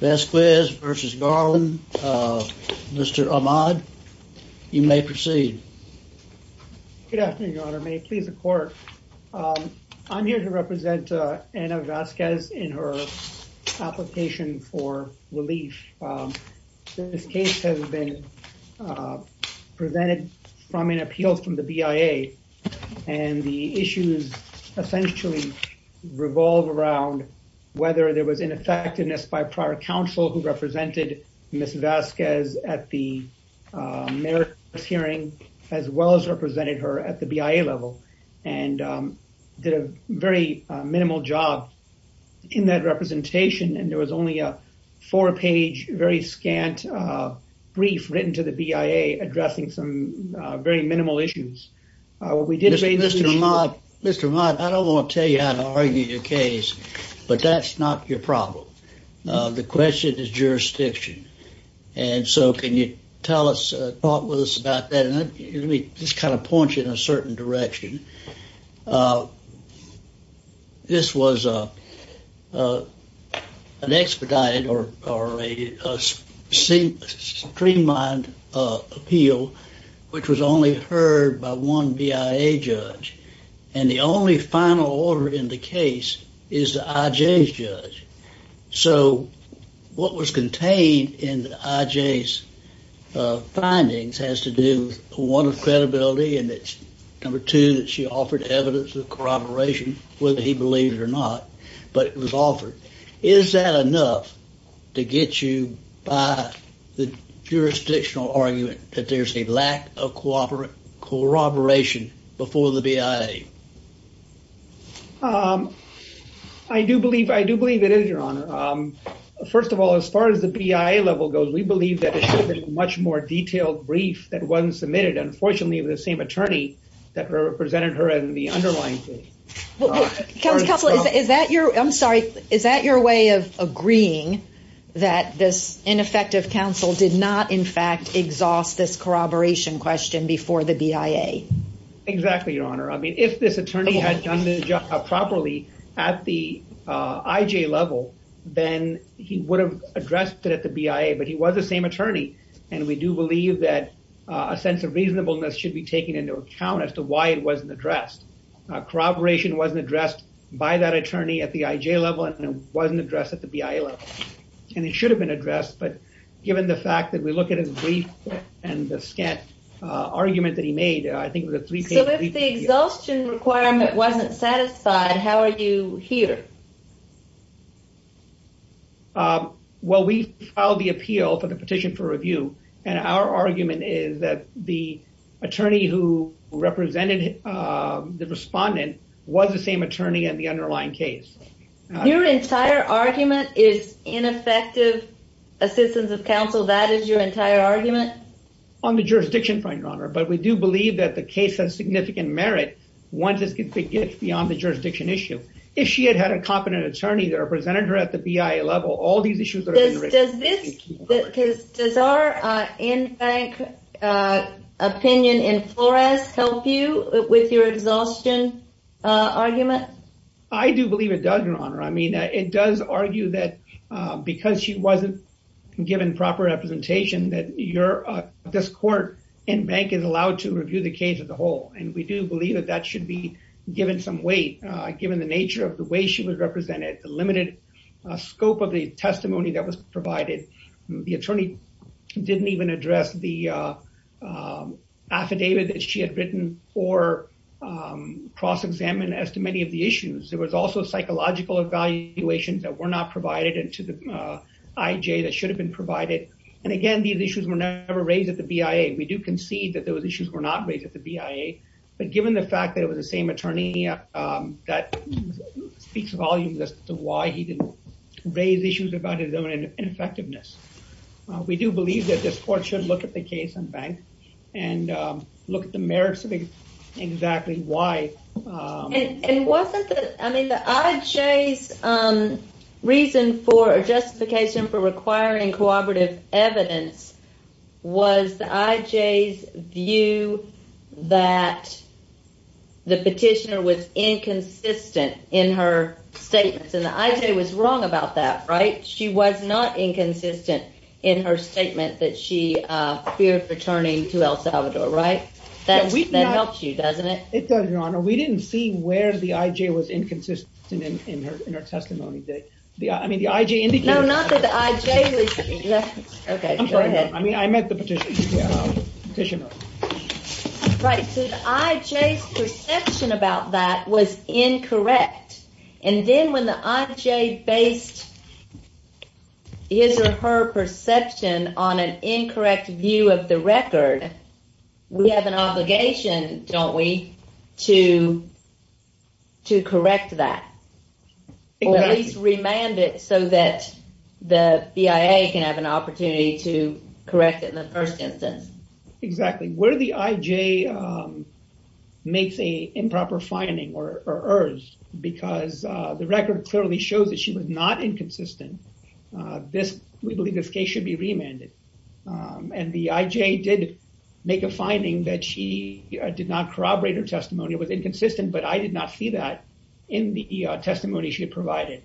Vasquez versus Garland. Mr. Ahmad, you may proceed. Good afternoon, your honor. May it please the court. I'm here to represent Anna Vasquez in her application for relief. This case has been presented from an appeal from the BIA and the issues essentially revolve around whether there was ineffectiveness by prior counsel who represented Ms. Vasquez at the Merrick hearing as well as represented her at the BIA level and did a very minimal job in that representation and there was only a four page very scant brief written to the BIA addressing some very minimal issues. Mr. Ahmad, I don't want to tell you how to argue your case but that's not your problem. The question is jurisdiction and so can you tell us, talk with us about that and let me just kind of point you in a certain direction. This was an expedited or a streamlined appeal which was only heard by one BIA judge and the only final order in the case is the IJ's judge so what was contained in the IJ's findings has to do with one of credibility and it's number two that she offered evidence of corroboration whether he believed it or not but it was offered. Is that enough to get you by the BIA? I do believe it is, Your Honor. First of all, as far as the BIA level goes, we believe that it should have been a much more detailed brief that wasn't submitted. Unfortunately, it was the same attorney that represented her in the underlying case. I'm sorry, is that your way of agreeing that this ineffective counsel did not in fact this corroboration question before the BIA? Exactly, Your Honor. I mean, if this attorney had done the job properly at the IJ level, then he would have addressed it at the BIA but he was the same attorney and we do believe that a sense of reasonableness should be taken into account as to why it wasn't addressed. Corroboration wasn't addressed by that attorney at the IJ level and it wasn't addressed at the BIA level and it should have been addressed but given the scant argument that he made, I think it was a three page brief. So, if the exhaustion requirement wasn't satisfied, how are you here? Well, we filed the appeal for the petition for review and our argument is that the attorney who represented the respondent was the same attorney in the underlying case. Your entire argument is ineffective assistance of counsel, that is your entire argument? On the jurisdiction front, Your Honor, but we do believe that the case has significant merit once it gets beyond the jurisdiction issue. If she had had a competent attorney that represented her at the BIA level, all these issues would have been raised. Does our in-bank opinion in Flores help you with your exhaustion argument? I do believe it does, Your Honor. I mean, it does argue that because she wasn't given proper representation that this court in-bank is allowed to review the case as a whole and we do believe that that should be given some weight given the nature of the way she was represented, the limited scope of the testimony that was provided. The attorney didn't even address the affidavit that she had written or cross-examine as to many of the issues. There was also psychological evaluations that were not provided into the IJ that should have been provided and again these issues were never raised at the BIA. We do concede that those issues were not raised at the BIA but given the fact that it was the same attorney that speaks volumes as to why he didn't raise issues about his own ineffectiveness. We do believe that this court should look at the case in-bank and look at the merits of exactly why. And wasn't the, I mean the IJ's reason for a justification for requiring cooperative evidence was the IJ's view that the petitioner was inconsistent in her statements and the IJ was wrong about that, right? She was not inconsistent in her statement that she feared returning to El Salvador, right? That helps you, doesn't it? It does, your honor. We didn't see where the IJ was inconsistent in her testimony. I mean the IJ indicated. No, not that the IJ was. Okay, go ahead. I mean I meant the petitioner. Right, so the IJ's perception about that was incorrect and then when the IJ based his or her perception on an incorrect view of the record, we have an obligation, don't we, to to correct that or at least remand it so that the BIA can have an opportunity to correct it in the first instance. Exactly, where the IJ makes a improper finding or inconsistent. We believe this case should be remanded and the IJ did make a finding that she did not corroborate her testimony. It was inconsistent, but I did not see that in the testimony she had provided.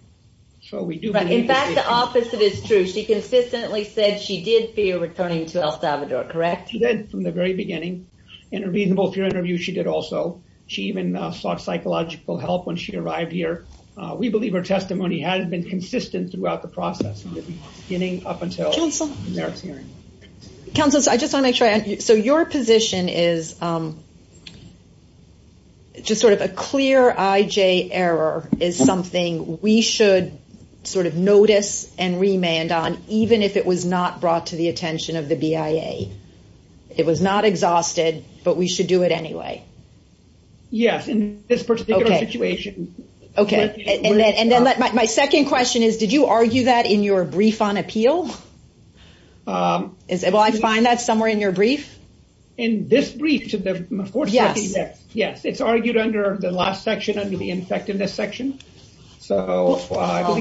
In fact, the opposite is true. She consistently said she did fear returning to El Salvador, correct? She did from the very beginning. In her reasonable fear interview, she did also. She even sought psychological help when she arrived here. We believe her testimony has been consistent throughout the process, beginning up until their hearing. Counsel, I just want to make sure, so your position is just sort of a clear IJ error is something we should sort of notice and remand on even if it was not brought to the attention of the BIA. It was not exhausted, but we should do it anyway. Yes, in this particular situation. Okay, and then my second question is, did you argue that in your brief on appeal? Will I find that somewhere in your brief? In this brief, yes, it's argued under the last section, under the ineffectiveness section. No,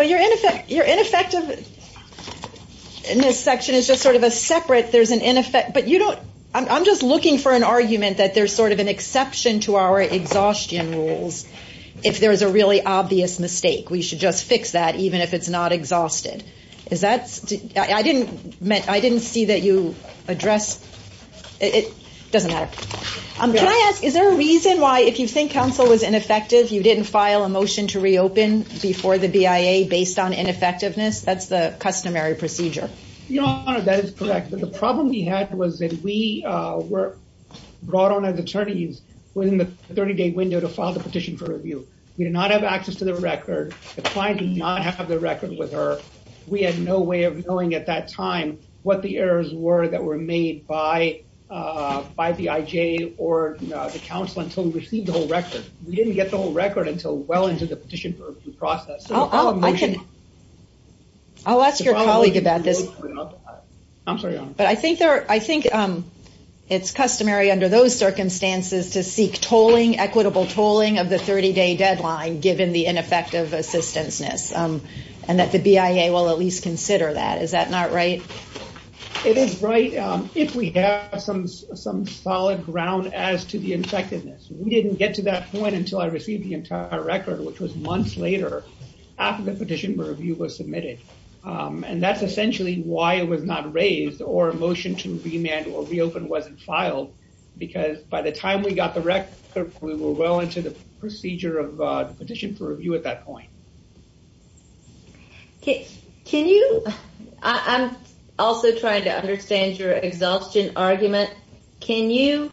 your ineffectiveness section is just sort of a separate, there's an ineffectiveness, but I'm just looking for an argument that there's sort of an exception to our exhaustion rules. If there's a really obvious mistake, we should just fix that even if it's not exhausted. Is that, I didn't see that you address, it doesn't matter. Can I ask, is there a reason why if you think counsel was ineffective, you didn't file a motion to reopen before the BIA based on ineffectiveness? That's the customary procedure. Your Honor, that is correct, but the problem we had was that we were brought on as attorneys within the 30-day window to file the petition for review. We did not have access to the record. The client did not have the record with her. We had no way of knowing at that time what the errors were that were made by the IJ or the counsel until we received the whole record. We didn't get the whole record until well into the petition for review process. I'll ask your colleague about that. I'm sorry, Your Honor. But I think it's customary under those circumstances to seek tolling, equitable tolling of the 30-day deadline given the ineffective assistanceness and that the BIA will at least consider that. Is that not right? It is right if we have some solid ground as to the effectiveness. We didn't get to that point until I received the entire record, which was months later after the petition for review was submitted. And that's essentially why it was not raised or a motion to remand or reopen wasn't filed because by the time we got the record, we were well into the procedure of the petition for review at that point. Can you? I'm also trying to understand your exhaustion argument. Can you,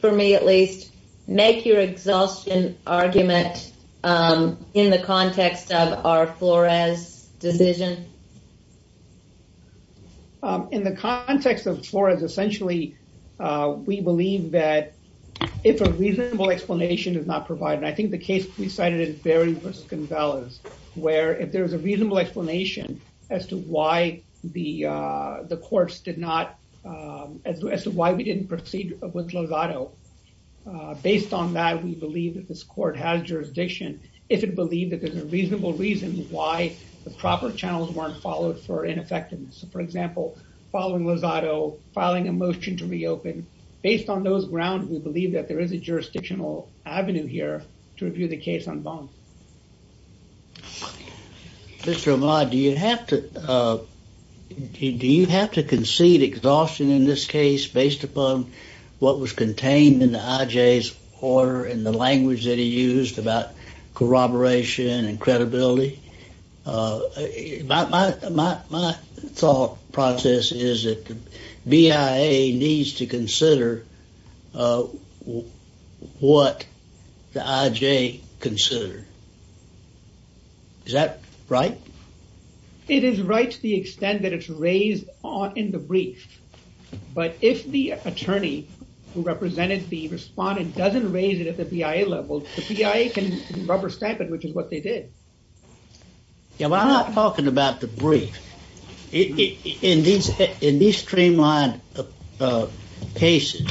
for me at least, make your exhaustion argument in the context of our Flores decision? In the context of Flores, essentially, we believe that if a reasonable explanation is not provided, I think the case we cited is very risk and balance, where if there is a reasonable explanation as to why the courts did not, as to why we didn't proceed with Lozado, based on that, we believe that this court has jurisdiction if it believed that there's a reasonable reason why the proper channels weren't followed for ineffectiveness. For example, following Lozado, filing a motion to reopen, based on those grounds, we believe that there is a jurisdictional avenue here to review the case on bond. Mr. O'Malley, do you have to concede exhaustion in this case based upon what was contained in the IJ's order and the language that he used about corroboration and consideration? Is that right? It is right to the extent that it's raised in the brief, but if the attorney who represented the respondent doesn't raise it at the PIA level, the PIA can rubber stamp it, which is what they did. Yeah, but I'm not talking about the brief. In these streamlined cases,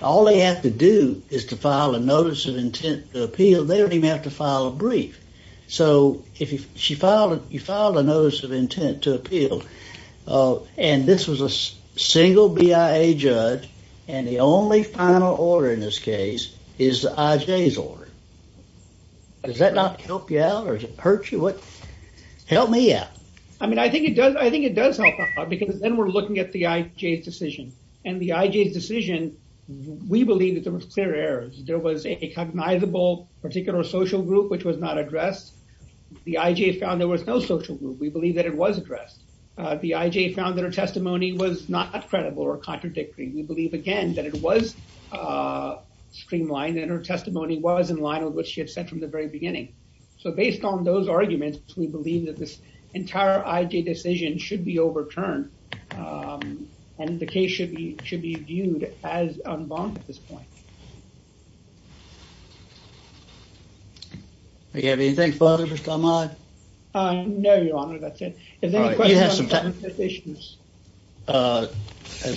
all they have to do is to file a notice of intent to appeal. They don't even have to file a brief. So, you filed a notice of intent to appeal, and this was a single BIA judge, and the only final order in this case is the IJ's order. Does that not help you out, or does it hurt you? Help me out. I mean, I think it does help out, because then we're looking at the IJ's decision, and the IJ's decision, we believe that there were clear errors. There was a cognizable particular social group which was not addressed. The IJ found there was no social group. We believe that it was addressed. The IJ found that her testimony was not credible or contradictory. We believe, again, that it was streamlined, and her testimony was in line with what she had said from the very beginning. So, based on those arguments, we believe that this entire IJ decision should be overturned, and the case should be viewed as unbound at this point. Do you have anything further, Mr. Ahmad? No, Your Honor. That's it. You have some time. The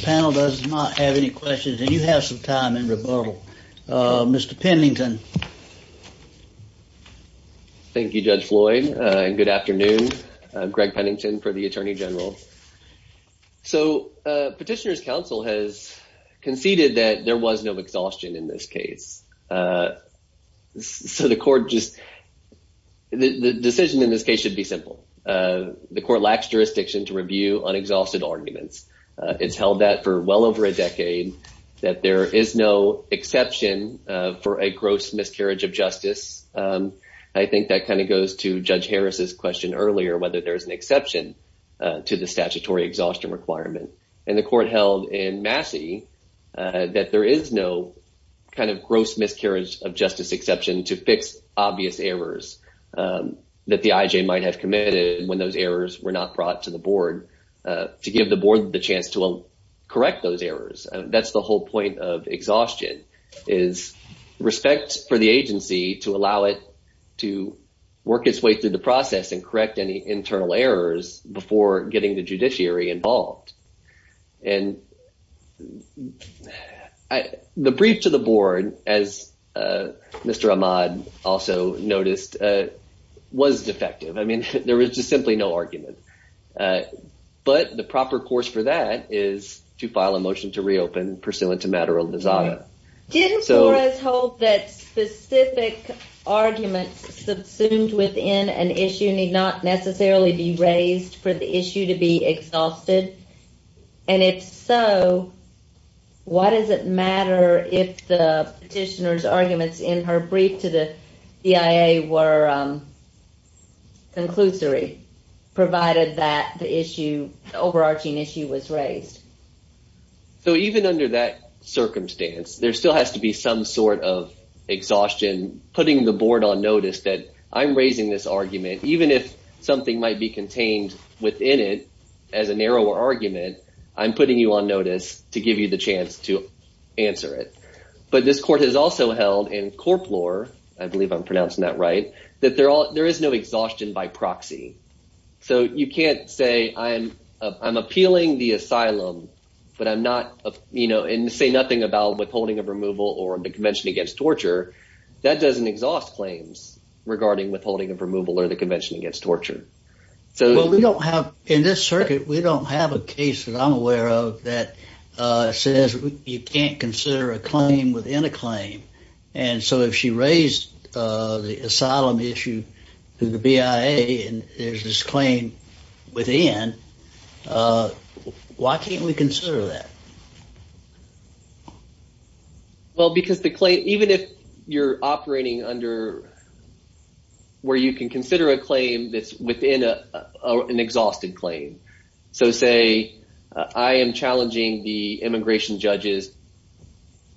panel does not have any questions, and you have some time in rebuttal. Mr. Pennington. Thank you, Judge Floyd, and good afternoon. I'm Greg Pennington for the Attorney General. So, Petitioner's Counsel has conceded that there was no exhaustion in this case. So, the court just—the decision in this case should be simple. The court lacks jurisdiction to review unexhausted arguments. It's held that for well over a decade that there is no exception for a gross miscarriage of justice. I think that kind of goes to Judge Harris's question earlier, whether there's an exception to the statutory exhaustion requirement. And the court held in kind of gross miscarriage of justice exception to fix obvious errors that the IJ might have committed when those errors were not brought to the board, to give the board the chance to correct those errors. That's the whole point of exhaustion, is respect for the agency to allow it to work its way through the process and correct any internal errors before getting the judiciary involved. And the brief to the board, as Mr. Ahmad also noticed, was defective. I mean, there is just simply no argument. But the proper course for that is to file a motion to reopen, pursuant to matter of lazada. Didn't Flores hold that specific arguments subsumed within an issue need not necessarily be raised for the issue to be exhausted? And if so, why does it matter if the petitioner's arguments in her brief to the CIA were conclusory, provided that the issue, the overarching issue was raised? So even under that circumstance, there still has to be some sort of exhaustion, putting the board on notice that I'm raising this argument, even if something might be contained within it as a narrower argument, I'm putting you on notice to give you the chance to answer it. But this court has also held in corpore, I believe I'm pronouncing that right, that there is no exhaustion by proxy. So you can't say I'm appealing the asylum, but I'm not, you know, and say nothing about withholding of removal or the Convention Against Torture. That doesn't exhaust claims regarding withholding of removal or the Convention Against Torture. So we don't have in this circuit, we don't have a case that I'm aware of that says you can't consider a claim within a claim. And so if she raised the asylum issue to the BIA, and there's this claim within, why can't we consider that? Well, because the claim, even if you're operating under, where you can consider a claim that's within an exhausted claim. So say, I am challenging the immigration judge's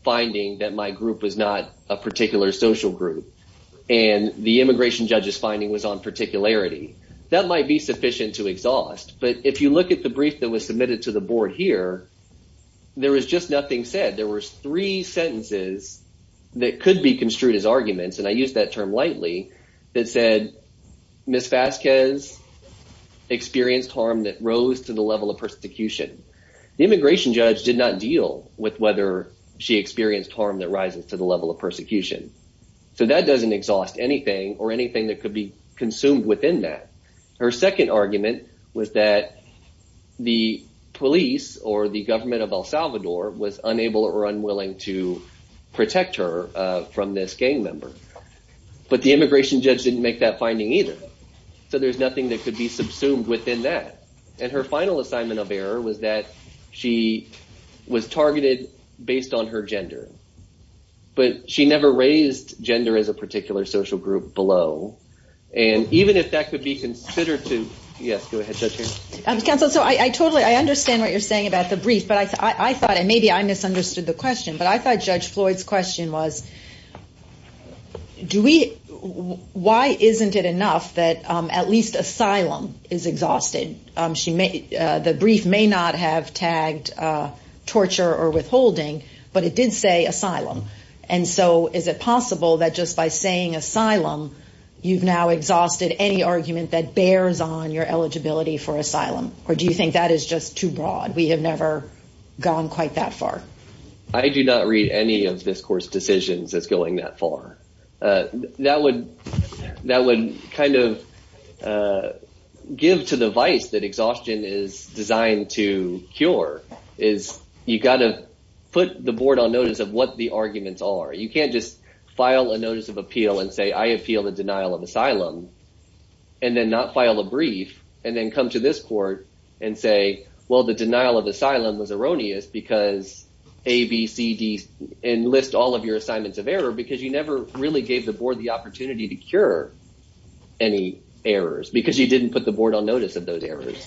finding that my group was not a particular social group. And the immigration judge's finding was on that particularity. That might be sufficient to exhaust. But if you look at the brief that was submitted to the board here, there was just nothing said. There were three sentences that could be construed as arguments, and I use that term lightly, that said, Ms. Vasquez experienced harm that rose to the level of persecution. The immigration judge did not deal with whether she experienced harm that rises to the level of persecution. So that doesn't exhaust anything or anything that could be consumed within that. Her second argument was that the police, or the government of El Salvador, was unable or unwilling to protect her from this gang member. But the immigration judge didn't make that finding either. So there's nothing that could be subsumed within that. And her final assignment of error was that she was targeted based on her And even if that could be considered to, yes, go ahead, Judge Harris. Counsel, so I totally, I understand what you're saying about the brief, but I thought, and maybe I misunderstood the question, but I thought Judge Floyd's question was, do we, why isn't it enough that at least asylum is exhausted? The brief may not have tagged torture or withholding, but it did say asylum. And so is it possible that just by saying asylum, you've now exhausted any argument that bears on your eligibility for asylum, or do you think that is just too broad? We have never gone quite that far. I do not read any of this court's decisions as going that far. That would kind of give to the vice that exhaustion is designed to cure, is you got to put the board on notice of the arguments are. You can't just file a notice of appeal and say, I appeal the denial of asylum and then not file a brief and then come to this court and say, well, the denial of asylum was erroneous because A, B, C, D, and list all of your assignments of error, because you never really gave the board the opportunity to cure any errors because you didn't put the board on notice of those errors.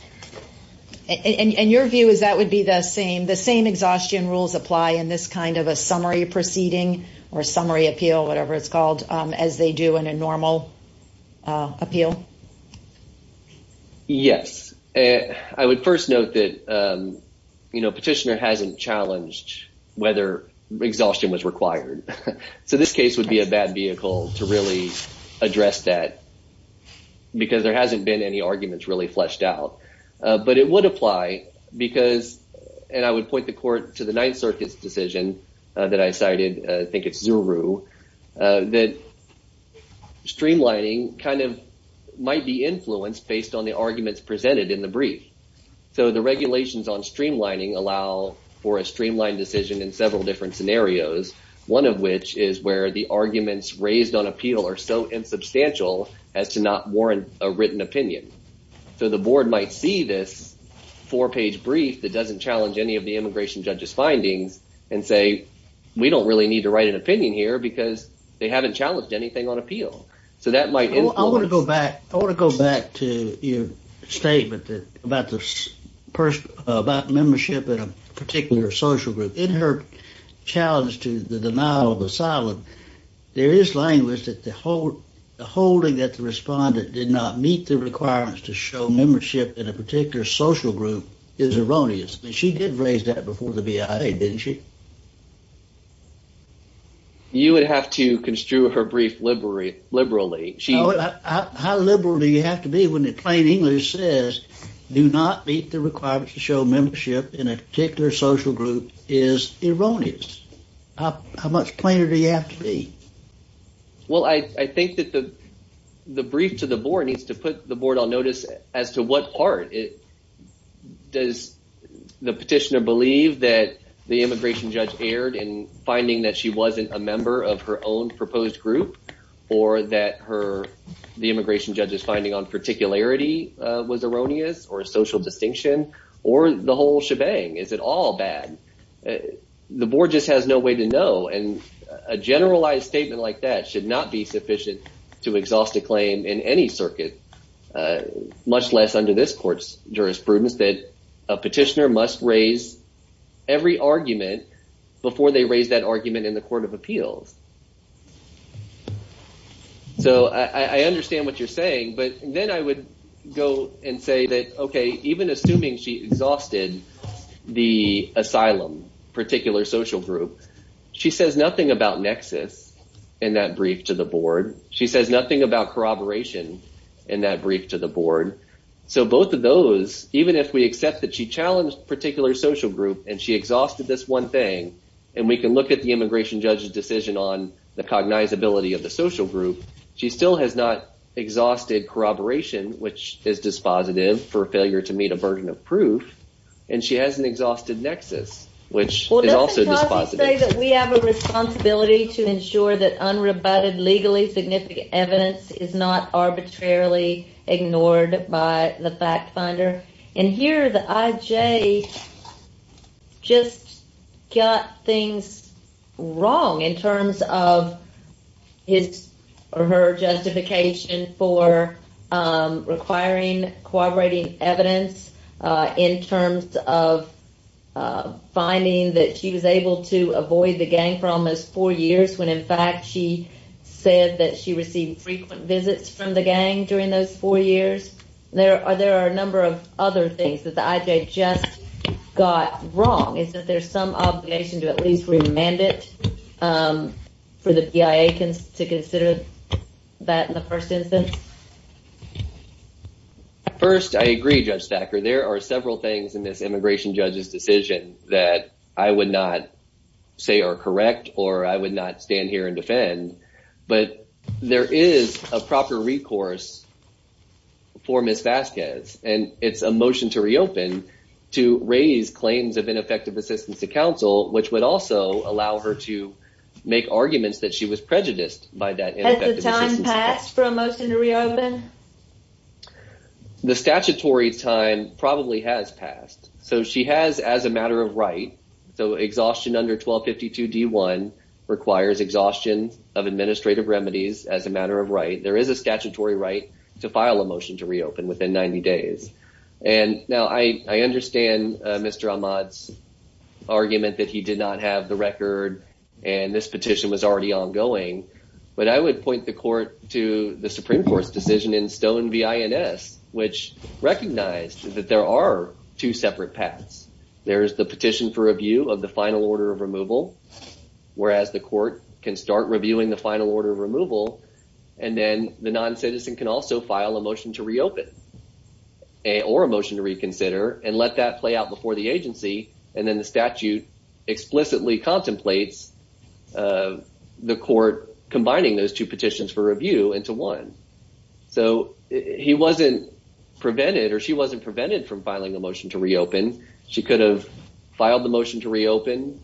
And your view is that would be the same, the same exhaustion rules apply in this kind of a summary proceeding or summary appeal, whatever it's called, as they do in a normal appeal? Yes. I would first note that petitioner hasn't challenged whether exhaustion was required. So this case would be a bad vehicle to really address that because there hasn't been any arguments really fleshed out. But it would apply because, and I would point the court to the Ninth Circuit's decision that I cited, I think it's Zuru, that streamlining kind of might be influenced based on the arguments presented in the brief. So the regulations on streamlining allow for a streamlined decision in several different scenarios, one of which is where the arguments raised on appeal are so insubstantial as to not warrant a written opinion. So the board might see this four-page brief that doesn't challenge any of the immigration judge's findings and say, we don't really need to write an opinion here because they haven't challenged anything on appeal. So that might... I want to go back to your statement about membership in a particular social group. In her challenge to the denial of asylum, there is language that the holding that the respondent did not meet the requirements to show membership in a particular social group is erroneous. She did raise that before the BIA, didn't she? You would have to construe her brief liberally. How liberal do you have to be when the plain English says, do not meet the requirements to show membership in a particular social group is erroneous? How much plainer do you have to be? Well, I think that the brief to the board needs to put the board on notice as to what part does the petitioner believe that the immigration judge erred in finding that she wasn't a member of her own proposed group or that the immigration judge's finding on particularity was erroneous or a social distinction or the whole shebang. Is it all bad? The board just has no way to know. And a generalized statement like that should not be sufficient to exhaust a claim in any circuit, much less under this court's jurisprudence, that a petitioner must raise every argument before they raise that argument in the court of appeals. So I understand what you're saying, but then I would go and say that, OK, even assuming she exhausted the asylum particular social group, she says nothing about nexus in that brief to the board. She says nothing about corroboration in that brief to the board. So both of those, even if we accept that she challenged a particular social group and she exhausted this one thing, and we can look at the immigration judge's decision on the cognizability of the social group, she still has not exhausted corroboration, which is dispositive for failure to meet a burden of proof. And she has an exhausted nexus, which is also dispositive. Well, doesn't Clausey say that we have a responsibility to ensure that unrebutted, legally significant evidence is not arbitrarily ignored by the fact finder? And here the IJ just got things wrong in terms of his or her justification for requiring corroborating evidence in terms of finding that she was able to avoid the gang for almost four years, when in fact she said that she received frequent visits from the gang during those four years. There are a number of other things that the IJ just got wrong. Is that there's some obligation to at least remand it for the PIA to consider that in the first instance? First, I agree, Judge Thacker. There are several things in this immigration judge's decision that I would not say are correct or I would not stand here and defend. But there is a proper recourse for Ms. Vasquez. And it's a motion to reopen to raise claims of ineffective assistance to counsel, which would also allow her to make arguments that she was prejudiced by that. Has the time passed for a motion to reopen? The statutory time probably has passed. So she has as a matter of right. So exhaustion under 1252 D1 requires exhaustion of administrative remedies as a matter of right. There is a statutory right to file a motion to reopen within 90 days. And now I understand Mr. Ahmad's argument that he did not have the record and this petition was already ongoing. But I would point the court to the Supreme Court's decision in Stone v. INS, which recognized that there are two separate paths. There is the petition for review of the final order of removal. And then the non-citizen can also file a motion to reopen or a motion to reconsider and let that play out before the agency. And then the statute explicitly contemplates the court combining those two petitions for review into one. So he wasn't prevented or she wasn't prevented from filing a motion to reopen. She could have filed the motion to reopen,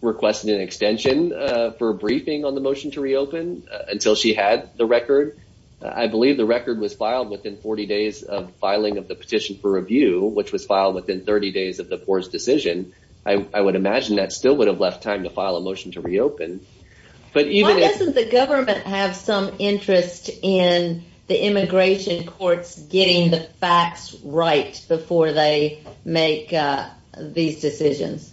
requested an extension for a briefing on the motion to reopen until she had the record. I believe the record was filed within 40 days of filing of the petition for review, which was filed within 30 days of the court's decision. I would imagine that still would have left time to file a motion to reopen. Why doesn't the government have some interest in the immigration courts getting the facts right before they make these decisions?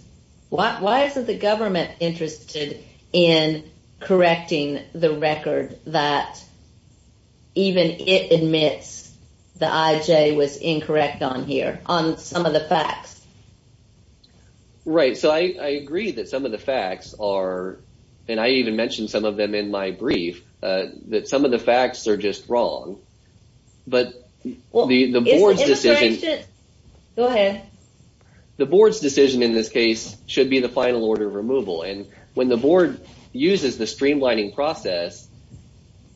Why isn't the government interested in correcting the record that even it admits the IJ was incorrect on here, on some of the facts? Right. So I agree that some of the facts are, and I even mentioned some of them in my brief, that some of the facts are just wrong. But the board's decision in this case should be the final order of removal. And when the board uses the streamlining process,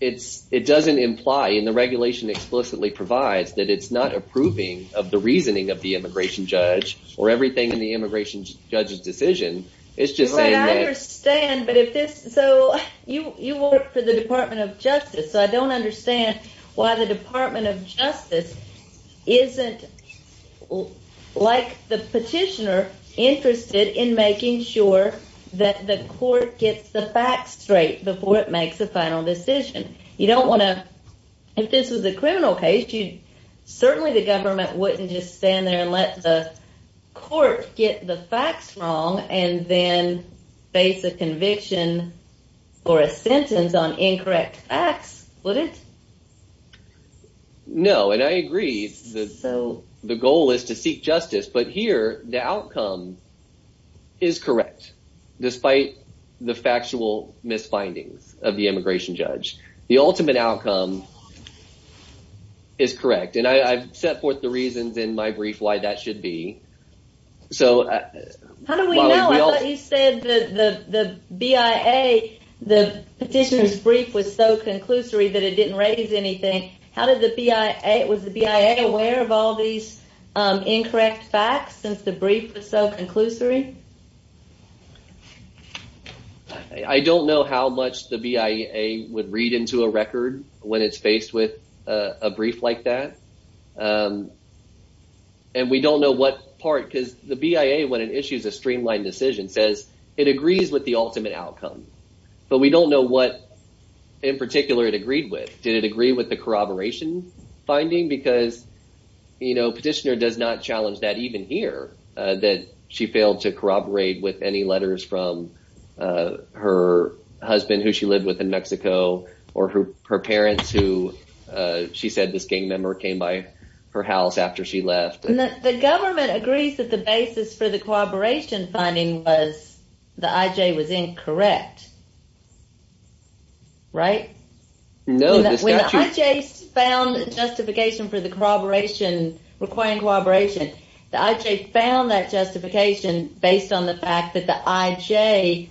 it doesn't imply in the regulation explicitly provides that it's not approving of the reasoning of the immigration court for the Department of Justice. So I don't understand why the Department of Justice isn't like the petitioner interested in making sure that the court gets the facts straight before it makes a final decision. You don't want to, if this was a criminal case, you certainly the government wouldn't just stand there and let the court get the facts wrong and then face a conviction or a sentence on incorrect facts, would it? No, and I agree that the goal is to seek justice, but here the outcome is correct. Despite the factual misfindings of the immigration judge, the ultimate outcome is correct. And I've set forth the reasons in my brief why that should be. So how do we know? I thought you said that the BIA, the petitioner's brief was so conclusory that it didn't raise anything. How did the BIA, was the BIA aware of all these incorrect facts since the brief was so conclusory? I don't know how much the BIA would read into a record when it's faced with a brief like that. And we don't know what part, because the BIA, when it issues a streamlined decision, says it agrees with the ultimate outcome, but we don't know what in particular it agreed with. Did it agree with the corroboration finding? Because, you know, petitioner does not challenge that even here, that she failed to corroborate with any letters from her husband who she lived with in Mexico or her parents who she said this gang member came by her house after she left. The government agrees that the basis for the corroboration finding was the IJ was incorrect. Right? No. When the IJ found justification for the corroboration, requiring corroboration, the IJ found that justification based on the fact that the IJ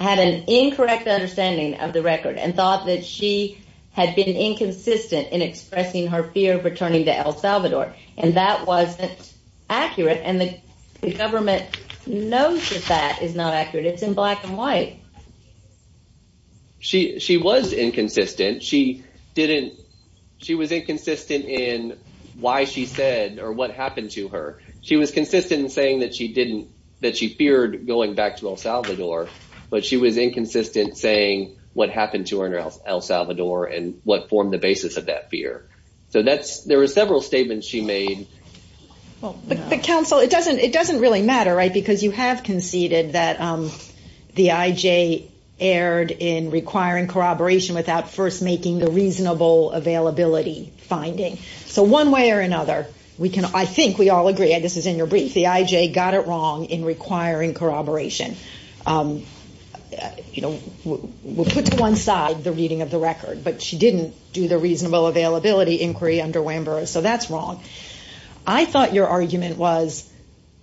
had an incorrect understanding of the record and thought that she had been inconsistent in expressing her fear of returning to El Salvador. And that wasn't accurate. And the government knows that that is not accurate. It's in black and white. She was inconsistent. She didn't, she was inconsistent in why she said or what happened to her. She was consistent in saying that she didn't, that she feared going back to El Salvador, but she was inconsistent saying what happened to her in El Salvador and what formed the basis of that fear. So that's, there were several statements she made. But counsel, it doesn't, it doesn't really matter, right? Because you have conceded that the IJ erred in requiring corroboration without first making the reasonable availability finding. So one way or another, we can, I think we all agree, and this is in your brief, the IJ got it wrong in requiring corroboration. You know, we'll put to one side the reading of the record, but she didn't do the reasonable availability inquiry under WANBUR. So that's wrong. I thought your argument was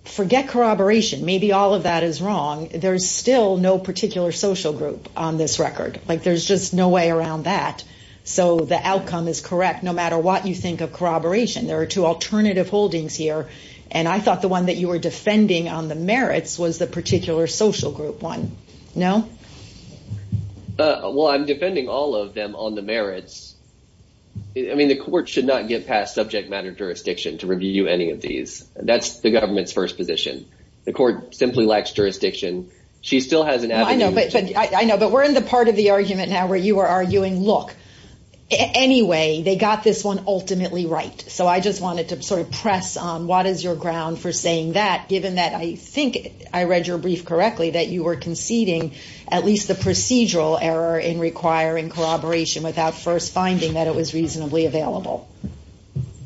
forget corroboration. Maybe all of that is wrong. There's still no particular social group on this record. Like there's just no way around that. So the outcome is correct. No matter what you think of corroboration, there are two alternative holdings here. And I thought the one that you were defending on the merits was the particular social group one. No? Well, I'm defending all of them on the merits. I mean, the court should not get past subject matter jurisdiction to review any of these. That's the government's first position. The court simply lacks jurisdiction. She still has an avenue. I know, but we're in the part of argument now where you are arguing, look, anyway, they got this one ultimately right. So I just wanted to sort of press on what is your ground for saying that, given that I think I read your brief correctly, that you were conceding at least the procedural error in requiring corroboration without first finding that it was reasonably available.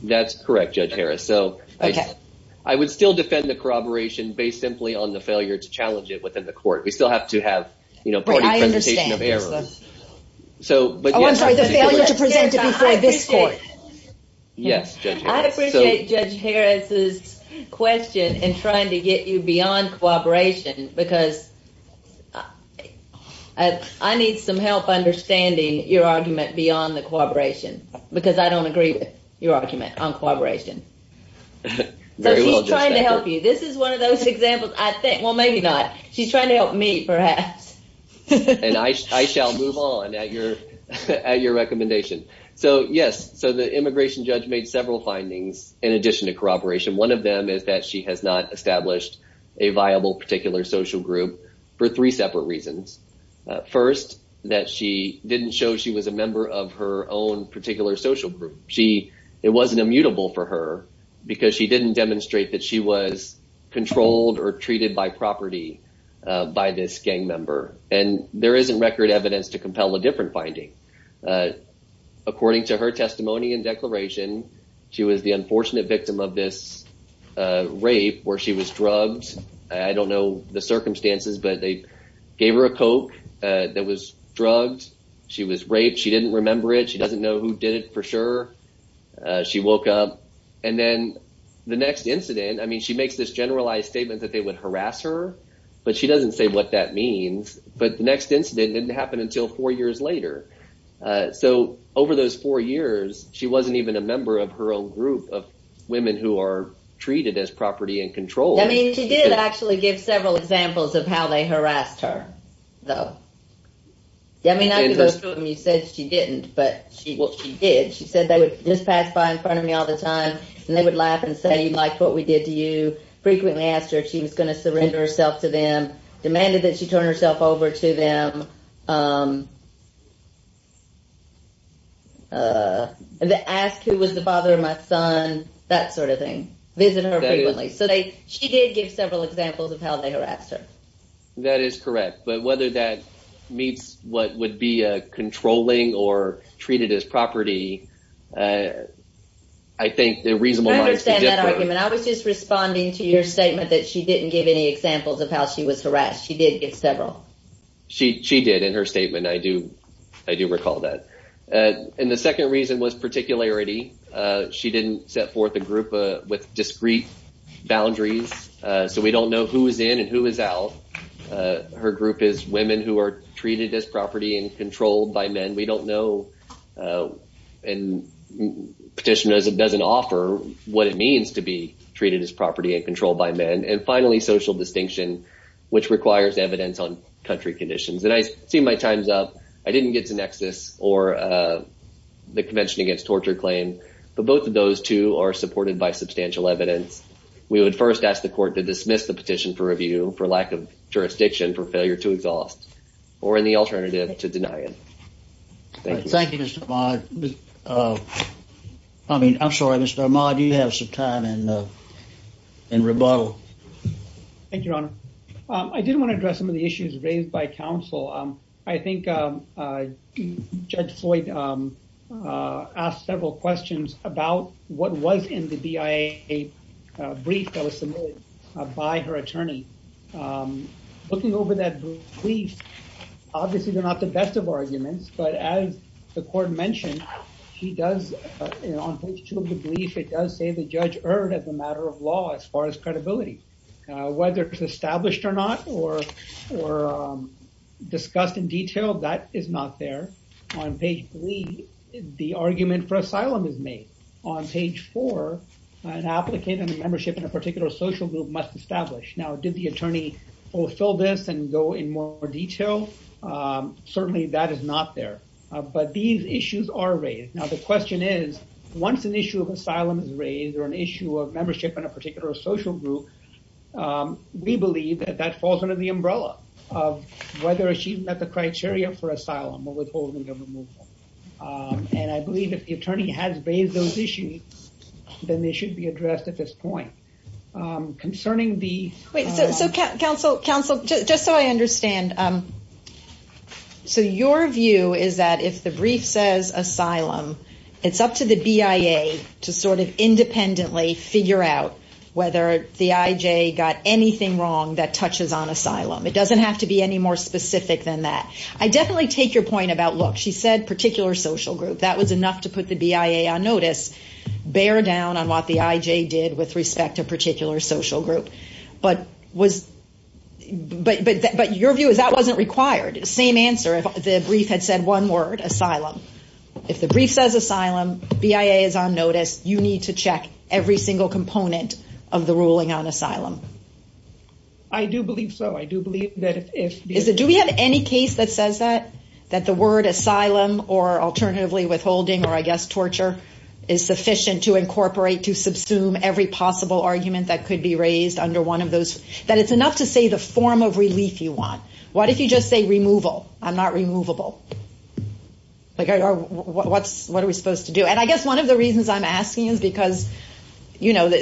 That's correct, Judge Harris. So I would still defend the corroboration based simply on the failure to challenge it within the court. We still have to have, you know, party presentation of error. Oh, I'm sorry, the failure to present it before this court. Yes, Judge Harris. I appreciate Judge Harris's question in trying to get you beyond corroboration because I need some help understanding your argument beyond the corroboration because I don't agree with your argument on corroboration. So she's trying to help you. This is one of those examples, I think. Well, maybe not. She's trying to help me, perhaps. And I shall move on at your recommendation. So, yes. So the immigration judge made several findings in addition to corroboration. One of them is that she has not established a viable particular social group for three separate reasons. First, that she didn't show she was a member of her own particular social group. It wasn't immutable for her because she didn't demonstrate that she was controlled or treated by property by this gang member. And there isn't record evidence to compel a different finding. According to her testimony and declaration, she was the unfortunate victim of this rape where she was drugged. I don't know the circumstances, but they gave her a Coke that was drugged. She was raped. She didn't remember it. She doesn't know who did it for sure. She woke up. And then the next incident, I mean, she makes this generalized statement that they would harass her, but she doesn't say what that means. But the next incident didn't happen until four years later. So over those four years, she wasn't even a member of her own group of women who are treated as property and control. I mean, she did actually give several examples of how they harassed her, though. Yeah, I mean, you said she didn't, but she did. She said they would just pass by in front of me all the time and they would laugh and say, like what we did to you. Frequently asked her if she was going to surrender herself to them, demanded that she turn herself over to them. And they asked who was the father of my son, that sort of thing. Visit her frequently. So they she did give several examples of how they harassed her. That is correct. But whether that meets what would be a controlling or treated as property, I think the reason I understand that argument, I was just responding to your statement that she didn't give any examples of how she was harassed. She did get several. She did in her statement. I do. I do recall that. And the second reason was particularity. She didn't set forth a group with discrete boundaries. So we don't know who is in and who is out. Her group is women who are in petition as it doesn't offer what it means to be treated as property and controlled by men. And finally, social distinction, which requires evidence on country conditions. And I see my time's up. I didn't get to nexus or the Convention Against Torture claim, but both of those two are supported by substantial evidence. We would first ask the court to dismiss the petition for review for lack of jurisdiction for failure to exhaust or in the alternative to deny it. Thank you, Mr. Ahmad. I mean, I'm sorry, Mr. Ahmad, you have some time in rebuttal. Thank you, Your Honor. I did want to address some of the issues raised by counsel. I think Judge Floyd asked several questions about what was in the BIA brief that was submitted by her attorney. Looking over that brief, obviously they're not the best of arguments, but as the court mentioned, she does, on page two of the brief, it does say the judge erred as a matter of law as far as credibility. Whether it's established or not or discussed in detail, that is not there. On page three, the argument for asylum is made. On page four, an applicant and a membership in a particular social group must establish. Now, did the attorney fulfill this and go in more detail? Certainly, that is not there, but these issues are raised. Now, the question is, once an issue of asylum is raised or an issue of membership in a particular social group, we believe that that falls under the umbrella of whether she met the criteria for asylum or withholding of removal. I believe if the attorney has raised those issues, then they should be addressed at this point. Concerning the- Wait, so counsel, just so I understand, so your view is that if the brief says asylum, it's up to the BIA to sort of independently figure out whether the IJ got anything wrong that touches on asylum. It doesn't have to be any more specific than that. I definitely take your point about, look, she said particular social group. That was enough to put the BIA on notice. Bear down on what the IJ did with respect to a particular social group. But your view is that wasn't required. Same answer, if the brief had said one word, asylum. If the brief says asylum, BIA is on notice, you need to check every single component of the ruling on asylum. I do believe so. I do believe that if- Do we have any case that says that, that the word asylum or alternatively withholding, or I guess torture, is sufficient to incorporate to subsume every possible argument that could be raised under one of those? That it's enough to say the form of relief you want. What if you just say removal? I'm not removable. What are we supposed to do? And I guess one of the reasons I'm asking is because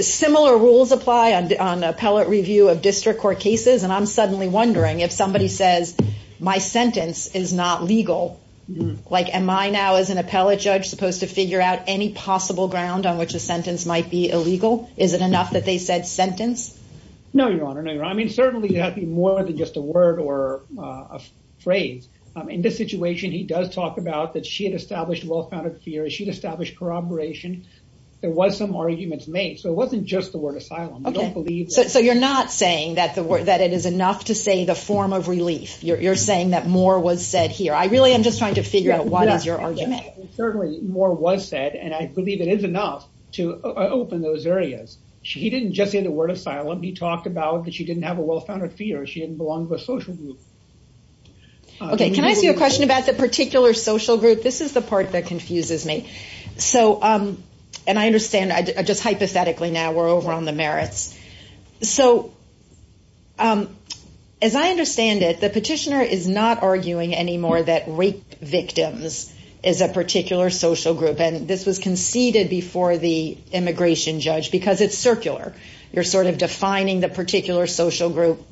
similar rules apply on appellate review of district court cases. And I'm suddenly wondering if somebody says, my sentence is not legal. Like, am I now as an appellate judge supposed to figure out any possible ground on which a sentence might be illegal? Is it enough that they said sentence? No, Your Honor. No, Your Honor. I mean, certainly, it has to be more than just a word or a phrase. In this situation, he does talk about that she had established a well-founded fear. She'd established corroboration. There was some arguments made. So it wasn't just the saying that it is enough to say the form of relief. You're saying that more was said here. I really am just trying to figure out what is your argument. Certainly, more was said. And I believe it is enough to open those areas. He didn't just say the word asylum. He talked about that she didn't have a well-founded fear. She didn't belong to a social group. OK. Can I ask you a question about the particular social group? This is the part that confuses me. And I understand, just hypothetically now, we're over on the merits. So as I understand it, the petitioner is not arguing anymore that rape victims is a particular social group. And this was conceded before the immigration judge because it's circular. You're sort of defining the particular social group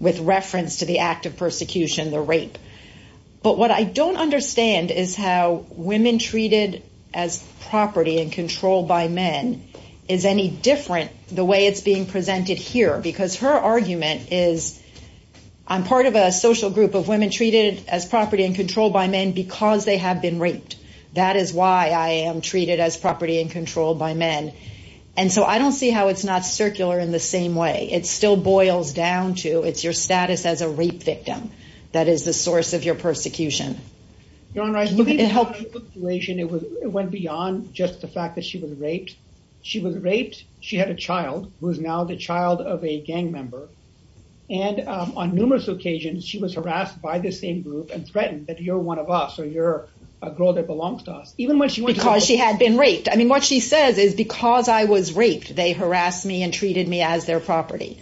with reference to the act of persecution, the rape. But what I don't understand is how women treated as property and controlled by men is any different the way it's being presented here. Because her argument is, I'm part of a social group of women treated as property and controlled by men because they have been raped. That is why I am treated as property and controlled by men. And so I don't see how it's not circular in the same way. It still boils down to it's your status as a rape victim that is the source of your persecution. Your Honor, I think it helped the situation. It went beyond just the fact that she was raped. She was raped. She had a child who is now the child of a gang member. And on numerous occasions, she was harassed by the same group and threatened that you're one of us or you're a girl that belongs to us. Even when she went to- Because she had been raped. I mean, what she says is because I was raped, they harassed me and treated me as their property.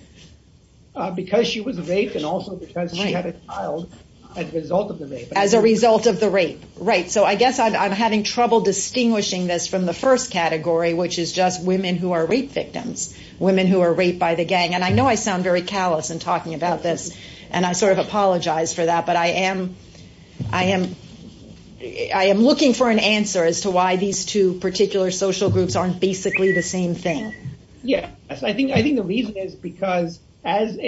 Because she was raped and also because she had a child as a result of the rape. As a result of the rape. Right. So I guess I'm having trouble distinguishing this from the first category, which is just women who are rape victims. Women who are raped by the gang. And I know I sound very callous in talking about this. And I sort of apologize for that. But I am looking for an answer as to why these two particular social groups aren't basically the same thing. Yeah. I think the reason is because as an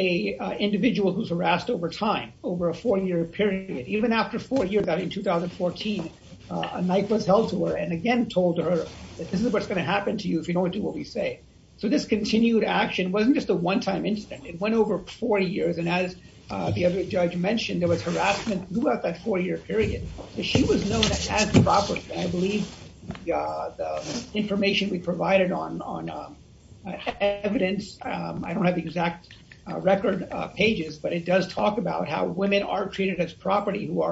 individual who's harassed over time, over a four-year period, even after four years out in 2014, a knife was held to her and again told her that this is what's going to happen to you if you don't do what we say. So this continued action wasn't just a one-time incident. It went over 40 years. And as the other judge mentioned, there was harassment throughout that four-year period. She was known as the property. And I believe the information we provided on evidence, I don't have the exact record pages, but it does talk about how women are treated as property who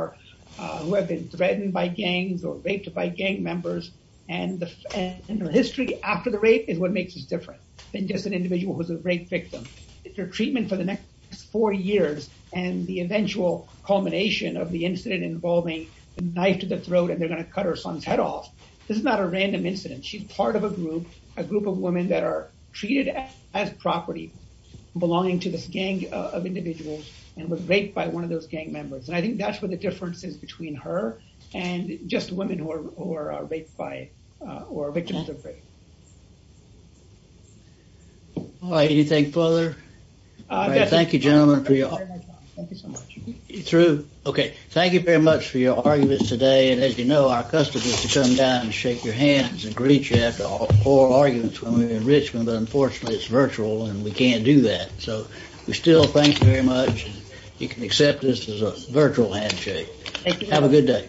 have been threatened by gangs or raped by gang members. And the history after the rape is what makes us different than just an individual who's a rape victim. If your treatment for the next four years and the eventual culmination of the incident involving a knife to the throat and they're going to cut her son's head off, this is not a random incident. She's part of a group, a group of women that are treated as property belonging to this gang of individuals and was raped by one of those gang members. And I think that's where the difference is between her and just women who are raped by or victims of rape. All right. Anything further? Thank you, gentlemen. Through. Okay. Thank you very much for your arguments today. And as you know, our customers to come down and shake your hands and greet you after all four arguments when we're in Richmond, but unfortunately it's virtual and we can't do that. So we still thank you very much. You can accept this as a virtual handshake. Thank you. Have a good day.